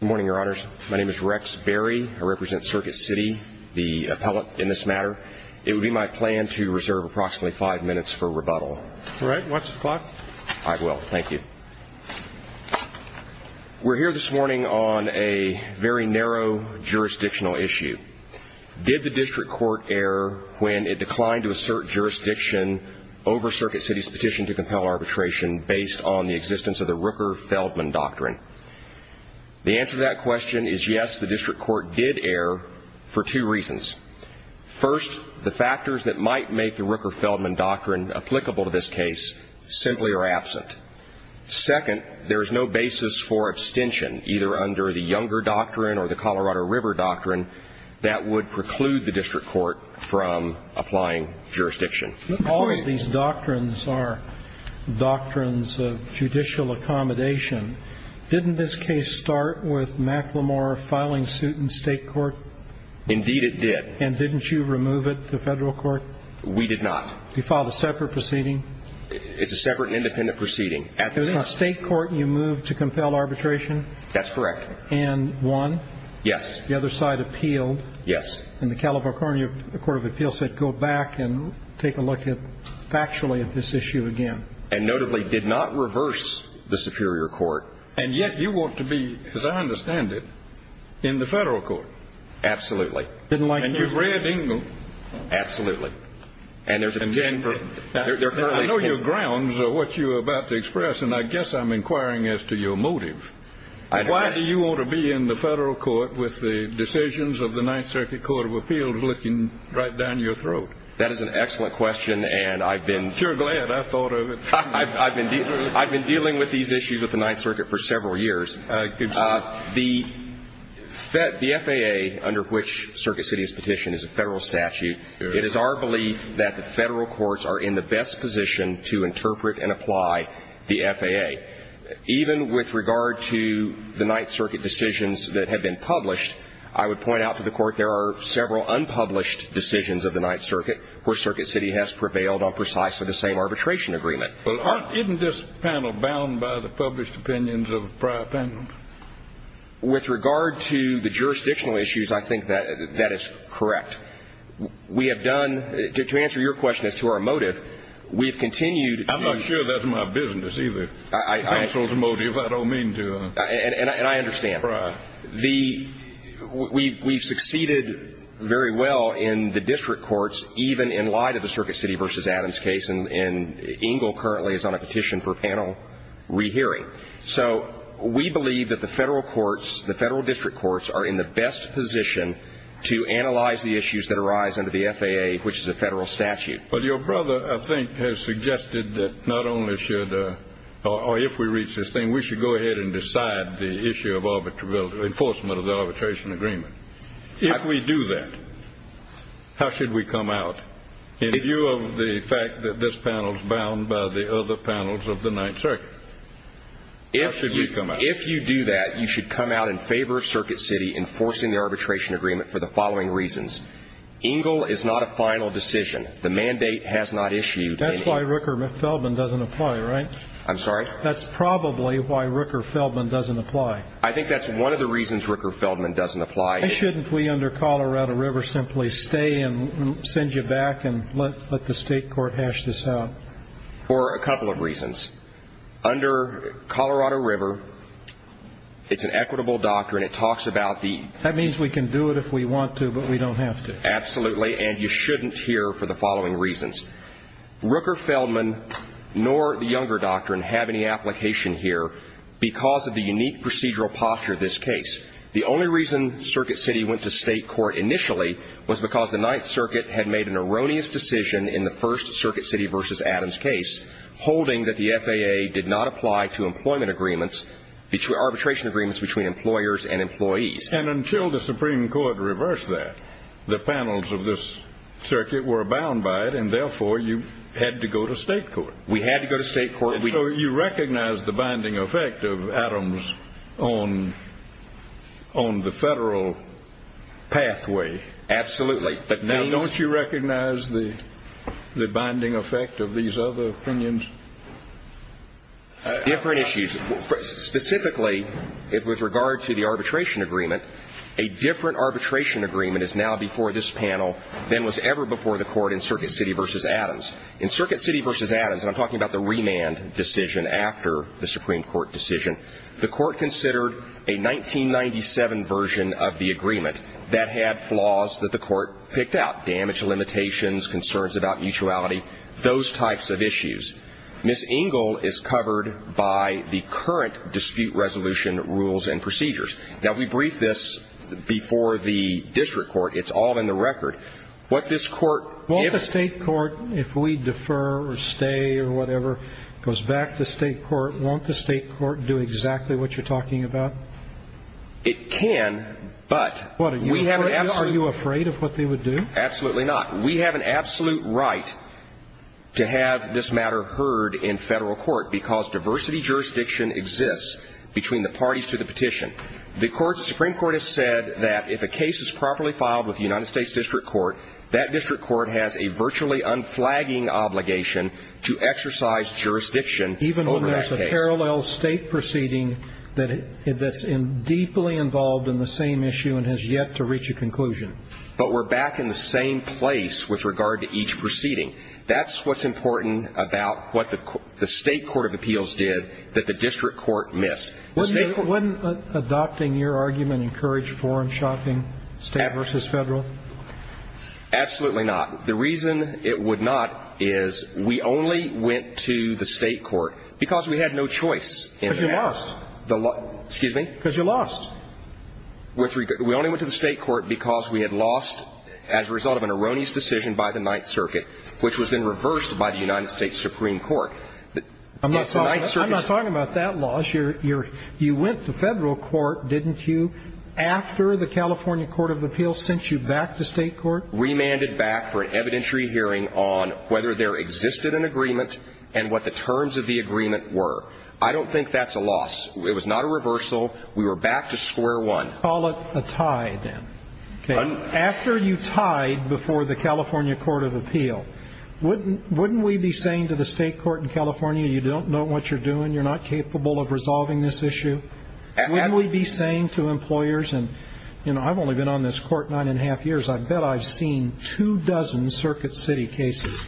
Good morning, Your Honors. My name is Rex Berry. I represent Circuit City, the appellate in this matter. It would be my plan to reserve approximately five minutes for rebuttal. All right. Watch the clock. I will. Thank you. We're here this morning on a very narrow jurisdictional issue. Did the district court err when it declined to assert jurisdiction over Circuit City's petition to compel arbitration based on the existence of the Rooker-Feldman Doctrine? The answer to that question is yes, the district court did err for two reasons. First, the factors that might make the Rooker-Feldman Doctrine applicable to this case simply are absent. Second, there is no basis for abstention, either under the Younger Doctrine or the Colorado River Doctrine, that would preclude the district court from applying jurisdiction. All of these doctrines are doctrines of judicial accommodation. Didn't this case start with McLemore filing suit in state court? Indeed, it did. And didn't you remove it to federal court? We did not. You filed a separate proceeding? It's a separate and independent proceeding. At the state court, you moved to compel arbitration? That's correct. And won? Yes. The other side appealed? Yes. And the Calabar County Court of Appeals said go back and take a look factually at this issue again. And notably did not reverse the superior court. And yet you want to be, as I understand it, in the federal court? Absolutely. Didn't like it. And you read Engel? Absolutely. And there's a general. I know your grounds of what you're about to express, and I guess I'm inquiring as to your motive. Why do you want to be in the federal court with the decisions of the Ninth Circuit Court of Appeals looking right down your throat? That is an excellent question, and I've been. You're glad. I thought of it. I've been dealing with these issues at the Ninth Circuit for several years. The FAA, under which Circuit City is petitioned, is a federal statute. It is our belief that the federal courts are in the best position to interpret and apply the FAA. Even with regard to the Ninth Circuit decisions that have been published, I would point out to the Court there are several unpublished decisions of the Ninth Circuit where Circuit City has prevailed on precisely the same arbitration agreement. Well, isn't this panel bound by the published opinions of prior panels? With regard to the jurisdictional issues, I think that that is correct. We have done to answer your question as to our motive, we have continued to. I'm not sure that's my business, either. Counsel's motive, I don't mean to pry. And I understand. We've succeeded very well in the district courts, even in light of the Circuit City v. Adams case, and Engle currently is on a petition for panel rehearing. So we believe that the federal courts, the federal district courts, are in the best position to analyze the issues that arise under the FAA, which is a federal statute. But your brother, I think, has suggested that not only should, or if we reach this thing, we should go ahead and decide the issue of enforcement of the arbitration agreement. If we do that, how should we come out? In view of the fact that this panel is bound by the other panels of the Ninth Circuit, how should we come out? If you do that, you should come out in favor of Circuit City enforcing the arbitration agreement for the following reasons. Engle is not a final decision. The mandate has not issued. That's why Rooker Feldman doesn't apply, right? I'm sorry? That's probably why Rooker Feldman doesn't apply. I think that's one of the reasons Rooker Feldman doesn't apply. Why shouldn't we under Colorado River simply stay and send you back and let the state court hash this out? For a couple of reasons. Under Colorado River, it's an equitable doctrine. That means we can do it if we want to, but we don't have to. Absolutely, and you shouldn't here for the following reasons. Rooker Feldman nor the Younger Doctrine have any application here because of the unique procedural posture of this case. The only reason Circuit City went to state court initially was because the Ninth Circuit had made an erroneous decision in the first Circuit City v. Adams case holding that the FAA did not apply to employment agreements, arbitration agreements between employers and employees. And until the Supreme Court reversed that, the panels of this circuit were abound by it, and therefore you had to go to state court. We had to go to state court. So you recognize the binding effect of Adams on the federal pathway. Absolutely. Don't you recognize the binding effect of these other opinions? Different issues. Specifically, with regard to the arbitration agreement, a different arbitration agreement is now before this panel than was ever before the court in Circuit City v. Adams. In Circuit City v. Adams, and I'm talking about the remand decision after the Supreme Court decision, the court considered a 1997 version of the agreement that had flaws that the court picked out, damage limitations, concerns about mutuality, those types of issues. Ms. Engel is covered by the current dispute resolution rules and procedures. Now, we briefed this before the district court. It's all in the record. What this court gives – Won't the state court, if we defer or stay or whatever, goes back to state court, won't the state court do exactly what you're talking about? It can, but – What, are you afraid of what they would do? Absolutely not. We have an absolute right to have this matter heard in federal court because diversity jurisdiction exists between the parties to the petition. The Supreme Court has said that if a case is properly filed with the United States district court, that district court has a virtually unflagging obligation to exercise jurisdiction over that case. Even when there's a parallel state proceeding that's deeply involved in the same issue and has yet to reach a conclusion. But we're back in the same place with regard to each proceeding. That's what's important about what the state court of appeals did that the district court missed. Wouldn't adopting your argument encourage foreign shopping, state versus federal? Absolutely not. The reason it would not is we only went to the state court because we had no choice in that. Because you lost. Excuse me? Because you lost. We only went to the state court because we had lost as a result of an erroneous decision by the Ninth Circuit, which was then reversed by the United States Supreme Court. I'm not talking about that loss. You went to federal court, didn't you, after the California court of appeals sent you back to state court? Remanded back for an evidentiary hearing on whether there existed an agreement and what the terms of the agreement were. I don't think that's a loss. It was not a reversal. We were back to square one. Let's call it a tie, then. Okay. After you tied before the California court of appeal, wouldn't we be saying to the state court in California, you don't know what you're doing, you're not capable of resolving this issue? Wouldn't we be saying to employers, and, you know, I've only been on this court nine and a half years, I bet I've seen two dozen Circuit City cases.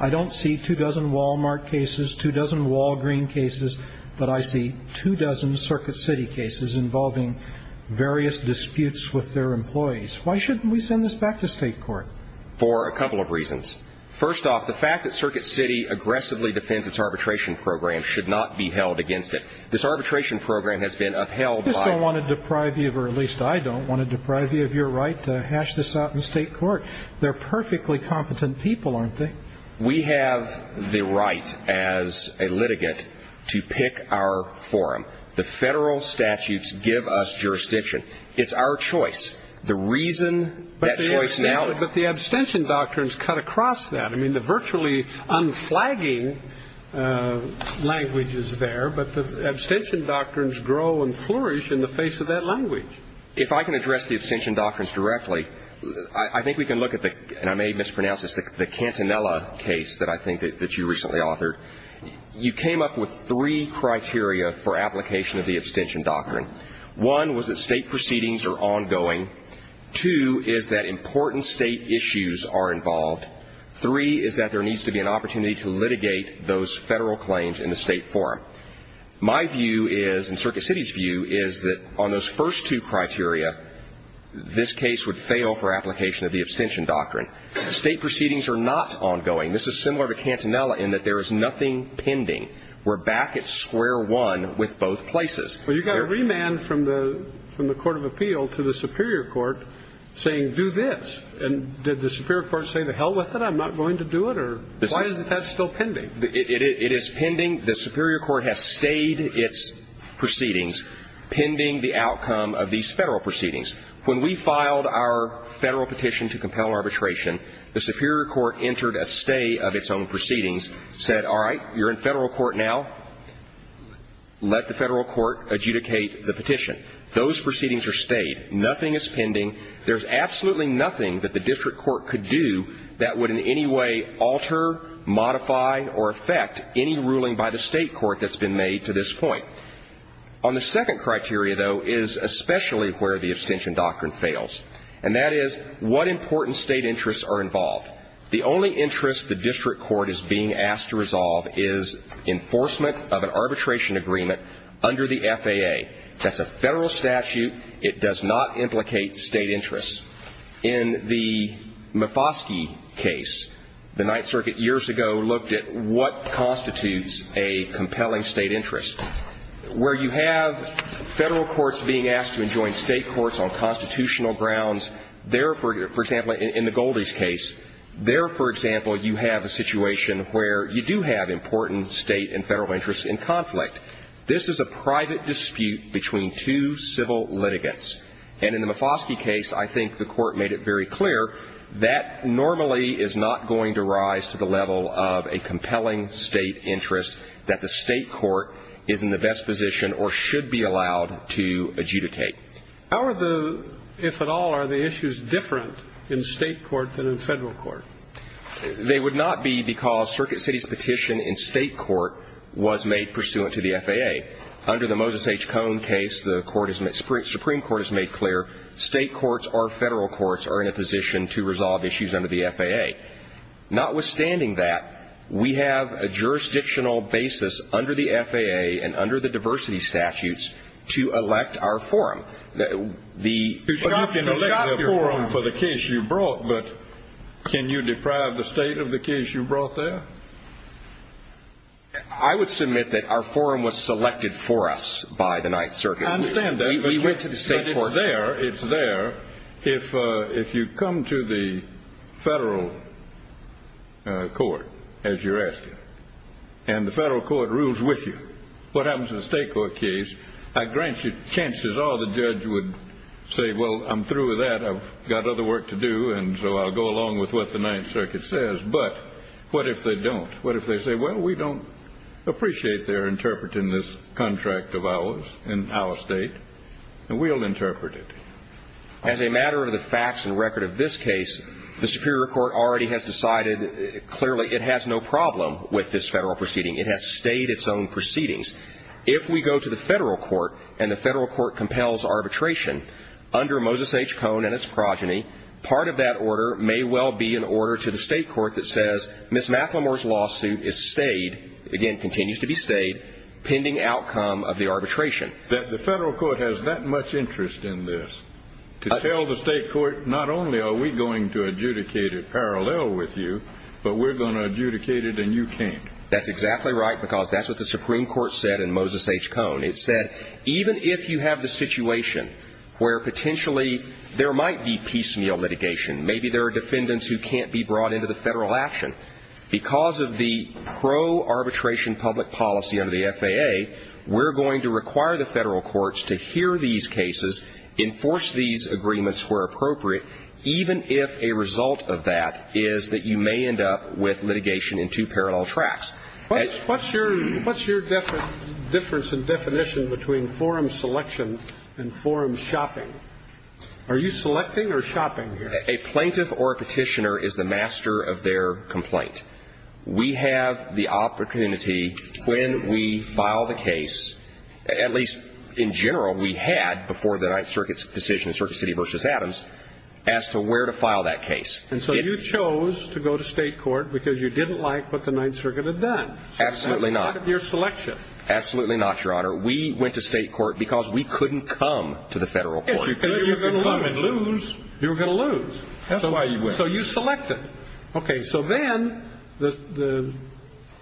I don't see two dozen Walmart cases, two dozen Walgreen cases, but I see two dozen Circuit City cases involving various disputes with their employees. Why shouldn't we send this back to state court? For a couple of reasons. First off, the fact that Circuit City aggressively defends its arbitration program should not be held against it. This arbitration program has been upheld by one of the. I just don't want to deprive you, or at least I don't want to deprive you of your right to hash this out in state court. They're perfectly competent people, aren't they? We have the right as a litigant to pick our forum. The federal statutes give us jurisdiction. It's our choice. The reason that choice now. But the abstention doctrines cut across that. I mean, the virtually unflagging language is there, but the abstention doctrines grow and flourish in the face of that language. If I can address the abstention doctrines directly, I think we can look at the, and I may mispronounce this, the Cantanella case that I think that you recently authored. You came up with three criteria for application of the abstention doctrine. One was that state proceedings are ongoing. Two is that important state issues are involved. Three is that there needs to be an opportunity to litigate those federal claims in the state forum. My view is, and Circuit City's view, is that on those first two criteria, this case would fail for application of the abstention doctrine. State proceedings are not ongoing. This is similar to Cantanella in that there is nothing pending. We're back at square one with both places. Well, you got a remand from the court of appeal to the superior court saying do this. And did the superior court say to hell with it? I'm not going to do it? Or why is that still pending? It is pending. The superior court has stayed its proceedings pending the outcome of these federal proceedings. When we filed our federal petition to compel arbitration, the superior court entered a stay of its own proceedings, said, all right, you're in federal court now. Let the federal court adjudicate the petition. Those proceedings are stayed. Nothing is pending. There's absolutely nothing that the district court could do that would in any way alter, modify, or affect any ruling by the state court that's been made to this point. On the second criteria, though, is especially where the abstention doctrine fails, and that is what important state interests are involved. The only interest the district court is being asked to resolve is enforcement of an arbitration agreement under the FAA. That's a federal statute. It does not implicate state interests. In the Mifosky case, the Ninth Circuit years ago looked at what constitutes a compelling state interest. Where you have federal courts being asked to enjoin state courts on constitutional grounds, there, for example, in the Goldie's case, there, for example, you have a situation where you do have important state and federal interests in conflict. This is a private dispute between two civil litigants. And in the Mifosky case, I think the Court made it very clear that normally is not going to rise to the level of a compelling state interest that the state court is in the best position or should be allowed to adjudicate. How are the ‑‑ if at all, are the issues different in state court than in federal court? They would not be because Circuit City's petition in state court was made pursuant to the FAA. Under the Moses H. Cohn case, the Supreme Court has made clear state courts or federal courts are in a position to resolve issues under the FAA. Notwithstanding that, we have a jurisdictional basis under the FAA and under the diversity statutes to elect our forum. You can elect your forum for the case you brought, but can you deprive the state of the case you brought there? I would submit that our forum was selected for us by the Ninth Circuit. I understand that. We went to the state court. It's there. It's there. If you come to the federal court, as you're asking, and the federal court rules with you, what happens in a state court case, I grant you, chances are the judge would say, well, I'm through with that. I've got other work to do, and so I'll go along with what the Ninth Circuit says. But what if they don't? What if they say, well, we don't appreciate their interpreting this contract of ours in our state, and we'll interpret it? As a matter of the facts and record of this case, the Superior Court already has decided clearly it has no problem with this federal proceeding. It has stayed its own proceedings. If we go to the federal court and the federal court compels arbitration under Moses H. Cohn and its progeny, part of that order may well be an order to the state court that says Ms. McLemore's lawsuit is stayed, again, continues to be stayed, pending outcome of the arbitration. The federal court has that much interest in this, to tell the state court, not only are we going to adjudicate it parallel with you, but we're going to adjudicate it and you can't. That's exactly right, because that's what the Supreme Court said in Moses H. Cohn. It said even if you have the situation where potentially there might be piecemeal litigation, maybe there are defendants who can't be brought into the federal action, because of the pro-arbitration public policy under the FAA, we're going to require the federal courts to hear these cases, enforce these agreements where appropriate, even if a result of that is that you may end up with litigation in two parallel tracks. What's your difference in definition between forum selection and forum shopping? Are you selecting or shopping here? A plaintiff or a petitioner is the master of their complaint. We have the opportunity when we file the case, at least in general we had before the Ninth Circuit's decision, Circuit City v. Adams, as to where to file that case. And so you chose to go to state court because you didn't like what the Ninth Circuit had done. Absolutely not. So that's part of your selection. Absolutely not, Your Honor. We went to state court because we couldn't come to the federal court. Yes, because you were going to lose. You were going to lose. That's why you went. So you selected. Okay, so then the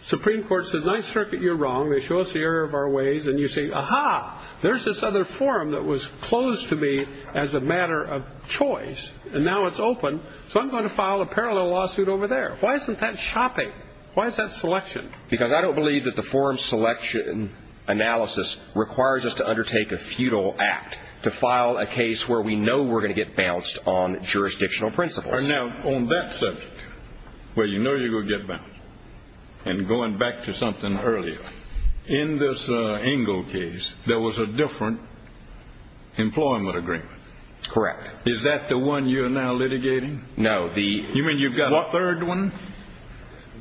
Supreme Court says, Ninth Circuit, you're wrong. They show us the error of our ways, and you say, Aha, there's this other forum that was closed to me as a matter of choice, and now it's open, so I'm going to file a parallel lawsuit over there. Why isn't that shopping? Why is that selection? Because I don't believe that the forum selection analysis requires us to undertake a futile act to file a case where we know we're going to get bounced on jurisdictional principles. Now, on that subject, where you know you're going to get bounced, and going back to something earlier, in this Engle case, there was a different employment agreement. Correct. Is that the one you're now litigating? No. You mean you've got a third one?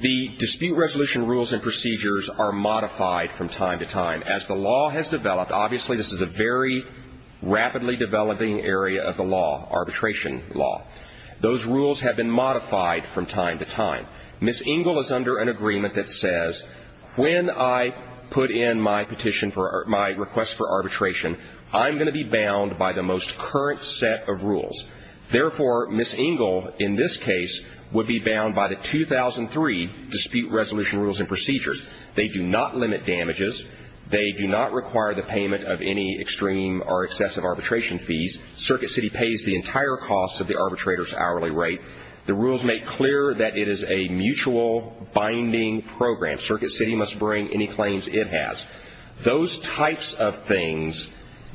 The dispute resolution rules and procedures are modified from time to time. As the law has developed, obviously this is a very rapidly developing area of the law, arbitration law. Those rules have been modified from time to time. Ms. Engle is under an agreement that says when I put in my petition for my request for arbitration, I'm going to be bound by the most current set of rules. Therefore, Ms. Engle, in this case, would be bound by the 2003 dispute resolution rules and procedures. They do not limit damages. They do not require the payment of any extreme or excessive arbitration fees. Circuit City pays the entire cost of the arbitrator's hourly rate. The rules make clear that it is a mutual binding program. Circuit City must bring any claims it has. Those types of things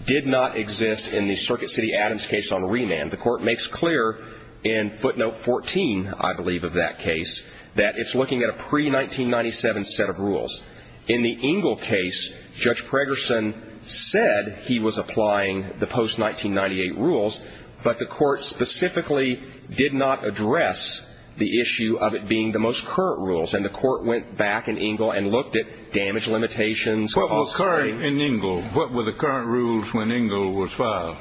did not exist in the Circuit City Adams case on remand. The Court makes clear in footnote 14, I believe, of that case, that it's looking at a pre-1997 set of rules. In the Engle case, Judge Pregerson said he was applying the post-1998 rules, but the Court specifically did not address the issue of it being the most current rules. And the Court went back in Engle and looked at damage limitations. What was current in Engle? What were the current rules when Engle was fired?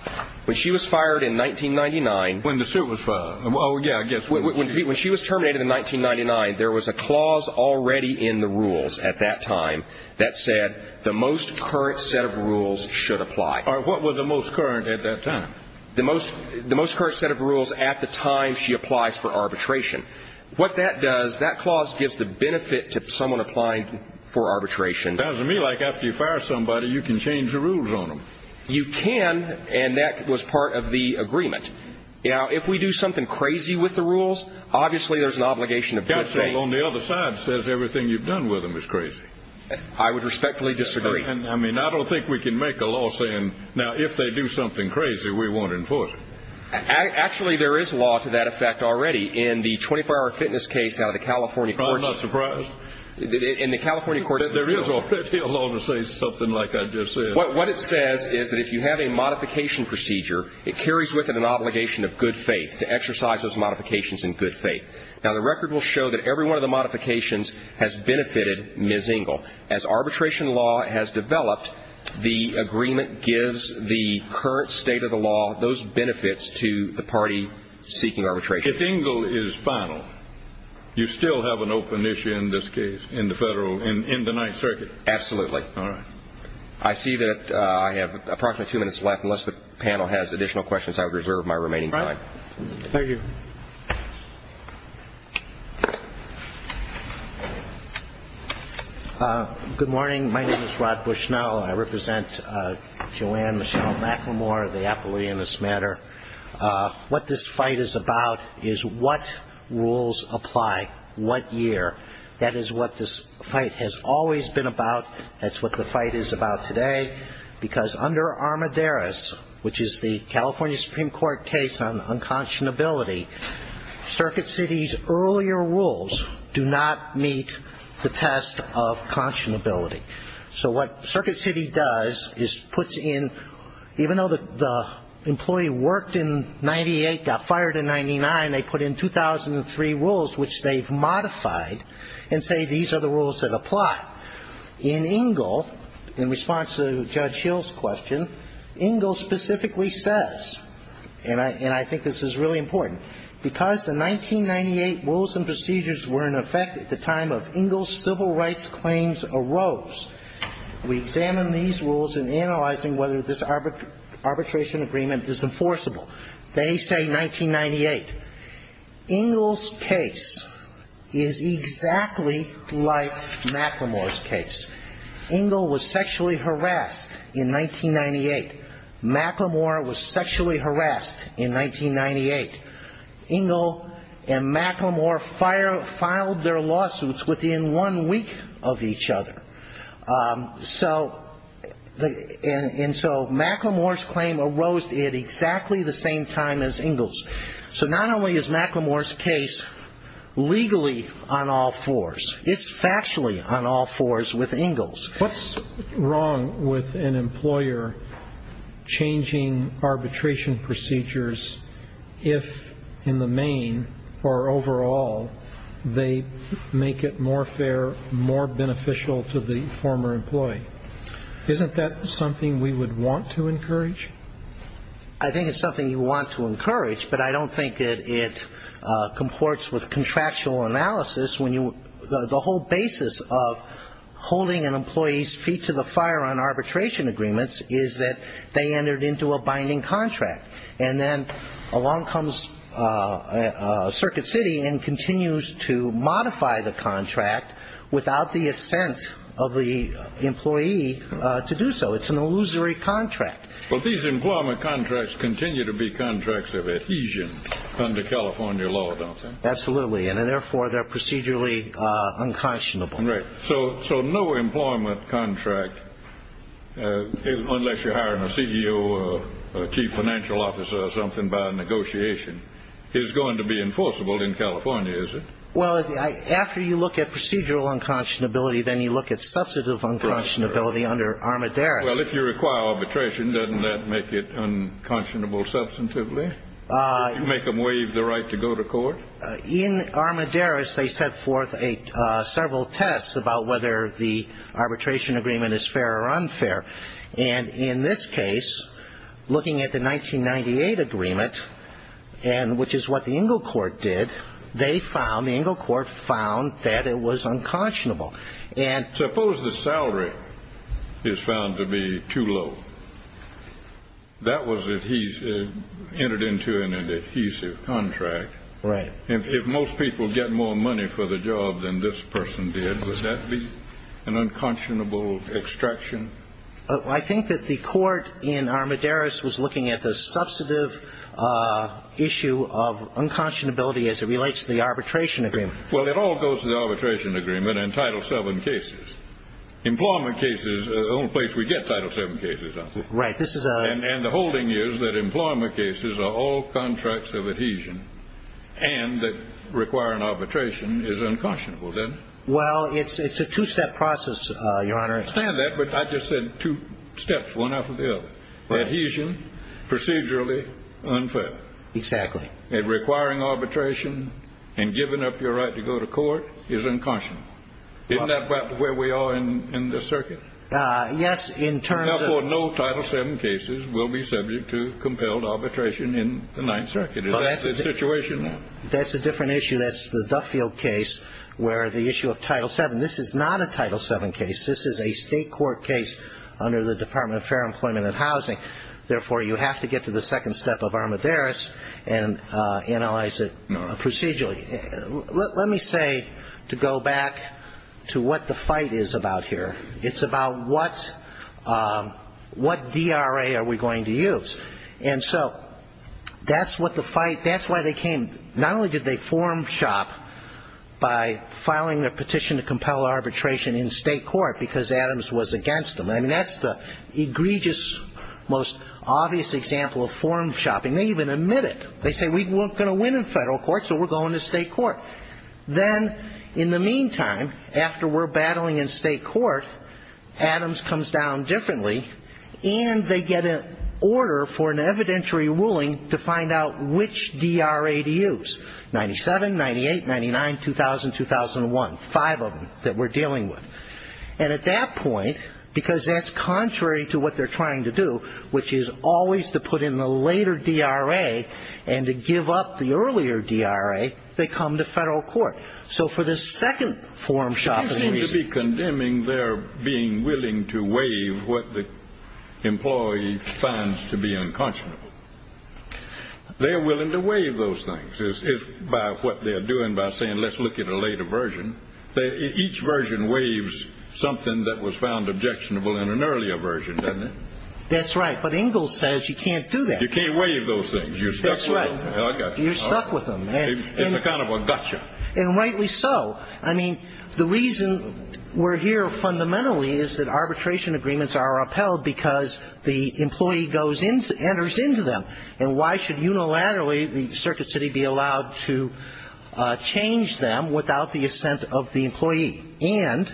When she was fired in 1999. When the suit was filed. Oh, yeah, I guess. When she was terminated in 1999, there was a clause already in the rules at that time that said the most current set of rules should apply. All right, what was the most current at that time? The most current set of rules at the time she applies for arbitration. What that does, that clause gives the benefit to someone applying for arbitration. Sounds to me like after you fire somebody, you can change the rules on them. You can, and that was part of the agreement. Now, if we do something crazy with the rules, obviously there's an obligation of good faith. That's all. On the other side, it says everything you've done with them is crazy. I would respectfully disagree. I mean, I don't think we can make a law saying, now, if they do something crazy, we won't enforce it. Actually, there is law to that effect already in the 24-hour fitness case out of the California courts. I'm not surprised. In the California courts. There is already a law to say something like I just said. What it says is that if you have a modification procedure, it carries with it an obligation of good faith to exercise those modifications in good faith. Now, the record will show that every one of the modifications has benefited Ms. Engel. As arbitration law has developed, the agreement gives the current state of the law those benefits to the party seeking arbitration. If Engel is final, you still have an open issue in this case in the federal, in the Ninth Circuit. Absolutely. All right. I see that I have approximately two minutes left. Unless the panel has additional questions, I would reserve my remaining time. Thank you. Good morning. My name is Rod Bushnell. I represent Joanne Michelle McLemore, the appellee in this matter. What this fight is about is what rules apply, what year. That is what this fight has always been about. That is what the fight is about today. Because under Armidares, which is the California Supreme Court case on unconscionability, Circuit City's earlier rules do not meet the test of conscionability. So what Circuit City does is puts in, even though the employee worked in 98, got fired in 99, they put in 2003 rules, which they've modified, and say these are the rules that apply. In Engel, in response to Judge Hill's question, Engel specifically says, and I think this is really important, because the 1998 rules and procedures were in effect at the time of Engel's civil rights claims arose, we examine these rules in analyzing whether this arbitration agreement is enforceable. They say 1998. Engel's case is exactly like McLemore's case. Engel was sexually harassed in 1998. McLemore was sexually harassed in 1998. Engel and McLemore filed their lawsuits within one week of each other. And so McLemore's claim arose at exactly the same time as Engel's. So not only is McLemore's case legally on all fours, it's factually on all fours with Engel's. What's wrong with an employer changing arbitration procedures if, in the main or overall, they make it more fair, more beneficial to the former employee? Isn't that something we would want to encourage? I think it's something you want to encourage, but I don't think it comports with contractual analysis. The whole basis of holding an employee's feet to the fire on arbitration agreements is that they entered into a binding contract. And then along comes Circuit City and continues to modify the contract without the assent of the employee to do so. It's an illusory contract. But these employment contracts continue to be contracts of adhesion under California law, don't they? Absolutely, and therefore they're procedurally unconscionable. So no employment contract, unless you're hiring a CEO or a chief financial officer or something by negotiation, is going to be enforceable in California, is it? Well, after you look at procedural unconscionability, then you look at substantive unconscionability under Armidares. Well, if you require arbitration, doesn't that make it unconscionable substantively? Make them waive the right to go to court? In Armidares, they set forth several tests about whether the arbitration agreement is fair or unfair. And in this case, looking at the 1998 agreement, which is what the Ingle Court did, they found, the Ingle Court found, that it was unconscionable. Suppose the salary is found to be too low. That was entered into an adhesive contract. Right. If most people get more money for the job than this person did, would that be an unconscionable extraction? I think that the court in Armidares was looking at the substantive issue of unconscionability as it relates to the arbitration agreement. Well, it all goes to the arbitration agreement and Title VII cases. Employment cases, the only place we get Title VII cases, don't we? Right. And the holding is that employment cases are all contracts of adhesion and that requiring arbitration is unconscionable, then? Well, it's a two-step process, Your Honor. I understand that, but I just said two steps, one after the other. Right. Adhesion, procedurally unfair. Exactly. And requiring arbitration and giving up your right to go to court is unconscionable. Isn't that about where we are in this circuit? Yes, in terms of ---- Therefore, no Title VII cases will be subject to compelled arbitration in the Ninth Circuit. Is that the situation? That's a different issue. That's the Duffield case where the issue of Title VII, this is not a Title VII case. Therefore, you have to get to the second step of armadares and analyze it procedurally. Let me say, to go back to what the fight is about here, it's about what DRA are we going to use. And so that's what the fight ---- that's why they came. Not only did they form SHOP by filing a petition to compel arbitration in state court because Adams was against them. I mean, that's the egregious, most obvious example of form shopping. They even admit it. They say, we're not going to win in federal court, so we're going to state court. Then, in the meantime, after we're battling in state court, Adams comes down differently, and they get an order for an evidentiary ruling to find out which DRA to use, 97, 98, 99, 2000, 2001, five of them that we're dealing with. And at that point, because that's contrary to what they're trying to do, which is always to put in the later DRA and to give up the earlier DRA, they come to federal court. So for the second form shopping reason ---- You seem to be condemning their being willing to waive what the employee finds to be unconscionable. They're willing to waive those things by what they're doing, by saying, let's look at a later version. Each version waives something that was found objectionable in an earlier version, doesn't it? That's right. But Ingalls says you can't do that. You can't waive those things. You're stuck with them. That's right. You're stuck with them. It's kind of a gotcha. And rightly so. I mean, the reason we're here fundamentally is that arbitration agreements are upheld because the employee enters into them. And why should unilaterally the circuit city be allowed to change them without the assent of the employee? And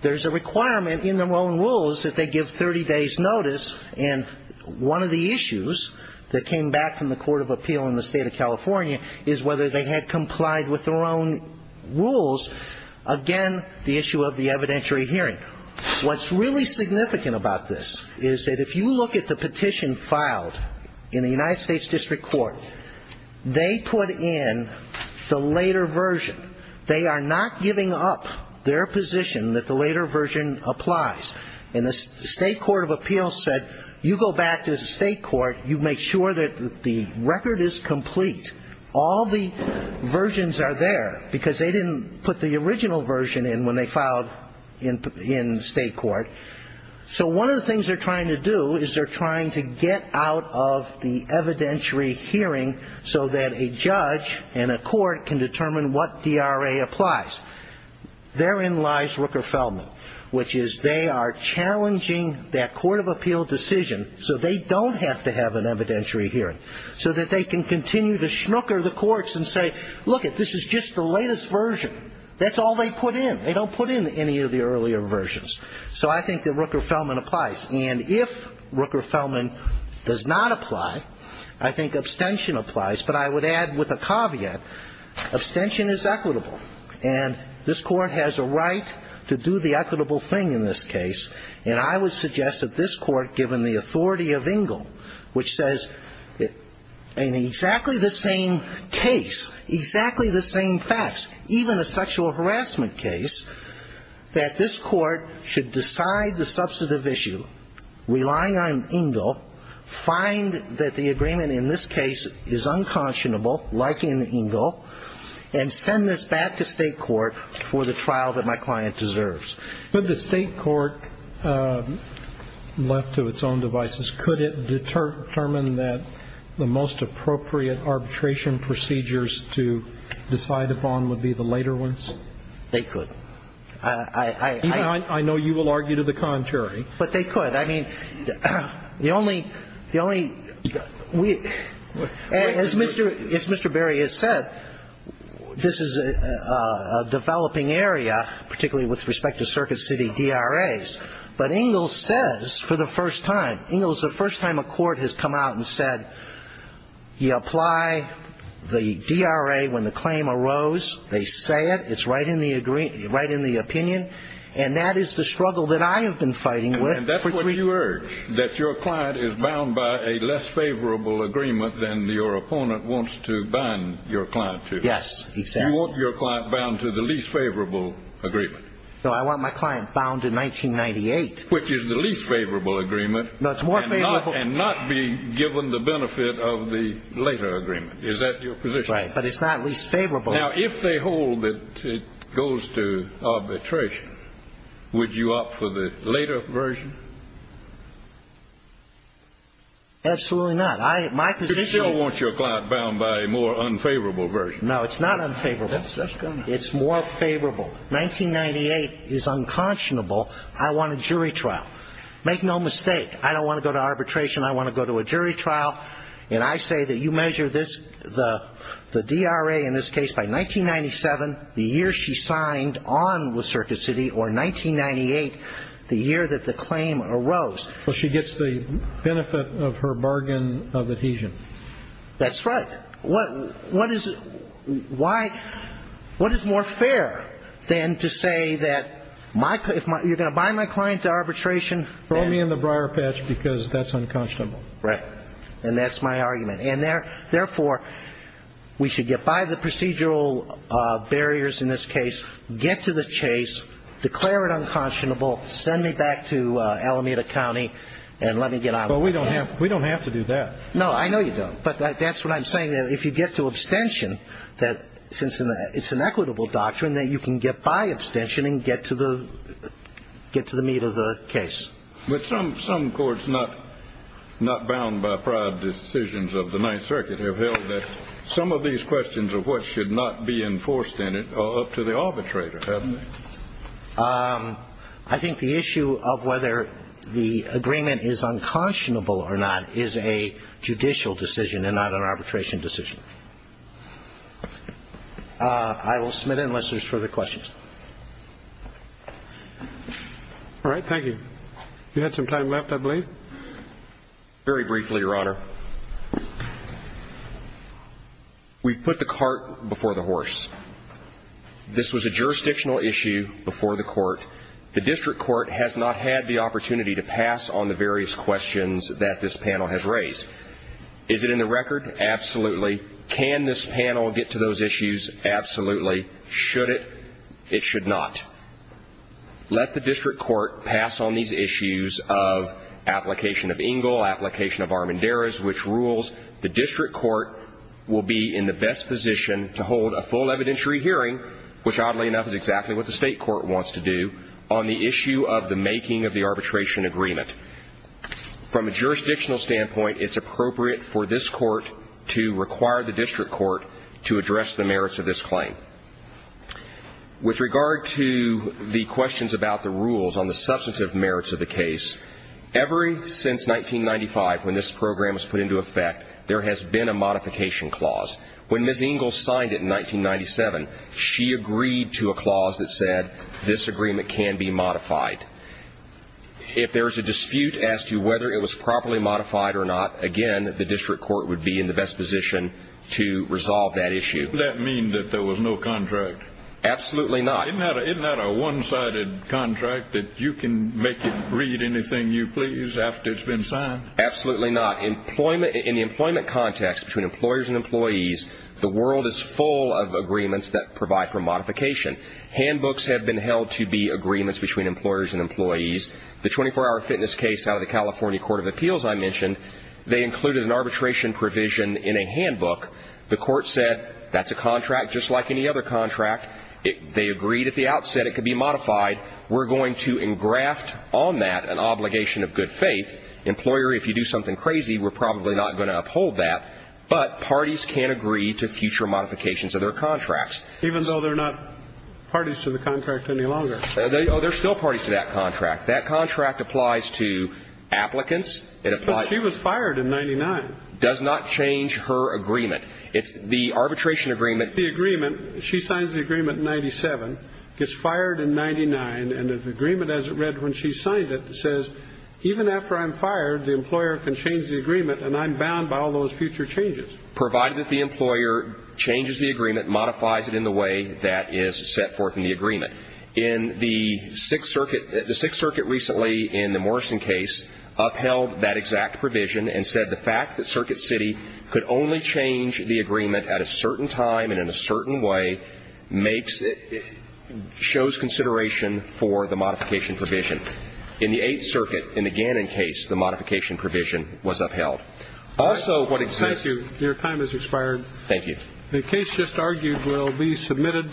there's a requirement in their own rules that they give 30 days' notice. And one of the issues that came back from the Court of Appeal in the State of California is whether they had complied with their own rules. Again, the issue of the evidentiary hearing. What's really significant about this is that if you look at the petition filed in the United States District Court, they put in the later version. They are not giving up their position that the later version applies. And the State Court of Appeal said you go back to the State Court, you make sure that the record is complete. All the versions are there because they didn't put the original version in when they filed in State Court. So one of the things they're trying to do is they're trying to get out of the evidentiary hearing so that a judge and a court can determine what DRA applies. Therein lies Rooker-Feldman, which is they are challenging that Court of Appeal decision so they don't have to have an evidentiary hearing, so that they can continue to schmooker the courts and say, lookit, this is just the latest version. That's all they put in. They don't put in any of the earlier versions. So I think that Rooker-Feldman applies. And if Rooker-Feldman does not apply, I think abstention applies. But I would add with a caveat, abstention is equitable. And this Court has a right to do the equitable thing in this case. And I would suggest that this Court, given the authority of Engle, which says in exactly the same case, exactly the same facts, even a sexual harassment case, that this Court should decide the substantive issue, relying on Engle, find that the agreement in this case is unconscionable, like in Engle, and send this back to State Court for the trial that my client deserves. Could the State court, left to its own devices, could it determine that the most appropriate arbitration procedures to decide upon would be the later ones? They could. I know you will argue to the contrary. But they could. I mean, the only – the only – as Mr. Berry has said, this is a developing area, particularly with respect to Circuit City DRAs. But Engle says for the first time – Engle is the first time a court has come out and said, you apply the DRA when the claim arose. They say it. It's right in the opinion. And that is the struggle that I have been fighting with. And that's what you urge, that your client is bound by a less favorable agreement than your opponent wants to bind your client to. Yes, exactly. You want your client bound to the least favorable agreement. No, I want my client bound to 1998. Which is the least favorable agreement. No, it's more favorable. And not be given the benefit of the later agreement. Is that your position? Right. But it's not least favorable. Now, if they hold that it goes to arbitration, would you opt for the later version? Absolutely not. My position is – You still want your client bound by a more unfavorable version. No, it's not unfavorable. It's more favorable. 1998 is unconscionable. I want a jury trial. Make no mistake. I don't want to go to arbitration. I want to go to a jury trial. And I say that you measure the DRA in this case by 1997, the year she signed on with Circuit City, or 1998, the year that the claim arose. Well, she gets the benefit of her bargain of adhesion. That's right. But what is more fair than to say that you're going to bind my client to arbitration? Throw me in the briar patch because that's unconscionable. Right. And that's my argument. And therefore, we should get by the procedural barriers in this case, get to the chase, declare it unconscionable, send me back to Alameda County, and let me get out. But we don't have to do that. No, I know you don't. But that's what I'm saying, that if you get to abstention, that since it's an equitable doctrine, that you can get by abstention and get to the meat of the case. But some courts not bound by prior decisions of the Ninth Circuit have held that some of these questions of what should not be enforced in it are up to the arbitrator, haven't they? I think the issue of whether the agreement is unconscionable or not is a judicial decision and not an arbitration decision. I will submit it unless there's further questions. All right. Thank you. You had some time left, I believe. Very briefly, Your Honor. We put the cart before the horse. This was a jurisdictional issue before the court. The district court has not had the opportunity to pass on the various questions that this panel has raised. Is it in the record? Absolutely. Can this panel get to those issues? Absolutely. Should it? It should not. Let the district court pass on these issues of application of Engel, application of Armendariz, which rules the district court will be in the best position to hold a full evidentiary hearing, which oddly enough is exactly what the state court wants to do, on the issue of the making of the arbitration agreement. From a jurisdictional standpoint, it's appropriate for this court to require the district court to address the merits of this claim. With regard to the questions about the rules on the substantive merits of the case, ever since 1995 when this program was put into effect, there has been a modification clause. When Ms. Engel signed it in 1997, she agreed to a clause that said this agreement can be modified. If there is a dispute as to whether it was properly modified or not, again, the district court would be in the best position to resolve that issue. Does that mean that there was no contract? Absolutely not. Isn't that a one-sided contract that you can make it read anything you please after it's been signed? Absolutely not. In the employment context between employers and employees, the world is full of agreements that provide for modification. Handbooks have been held to be agreements between employers and employees. The 24-hour fitness case out of the California Court of Appeals I mentioned, they included an arbitration provision in a handbook. The court said that's a contract just like any other contract. They agreed at the outset it could be modified. We're going to engraft on that an obligation of good faith. Employer, if you do something crazy, we're probably not going to uphold that. But parties can agree to future modifications of their contracts. Even though they're not parties to the contract any longer? They're still parties to that contract. That contract applies to applicants. But she was fired in 1999. Does not change her agreement. It's the arbitration agreement. The agreement, she signs the agreement in 1997, gets fired in 1999, and the agreement as it read when she signed it says, even after I'm fired, the employer can change the agreement and I'm bound by all those future changes. Provided that the employer changes the agreement, modifies it in the way that is set forth in the agreement. In the Sixth Circuit, the Sixth Circuit recently in the Morrison case upheld that exact provision and said the fact that Circuit City could only change the agreement at a certain time and in a certain way makes it, shows consideration for the modification provision. In the Eighth Circuit, in the Gannon case, the modification provision was upheld. Also what exists. Thank you. Your time has expired. Thank you. The case just argued will be submitted.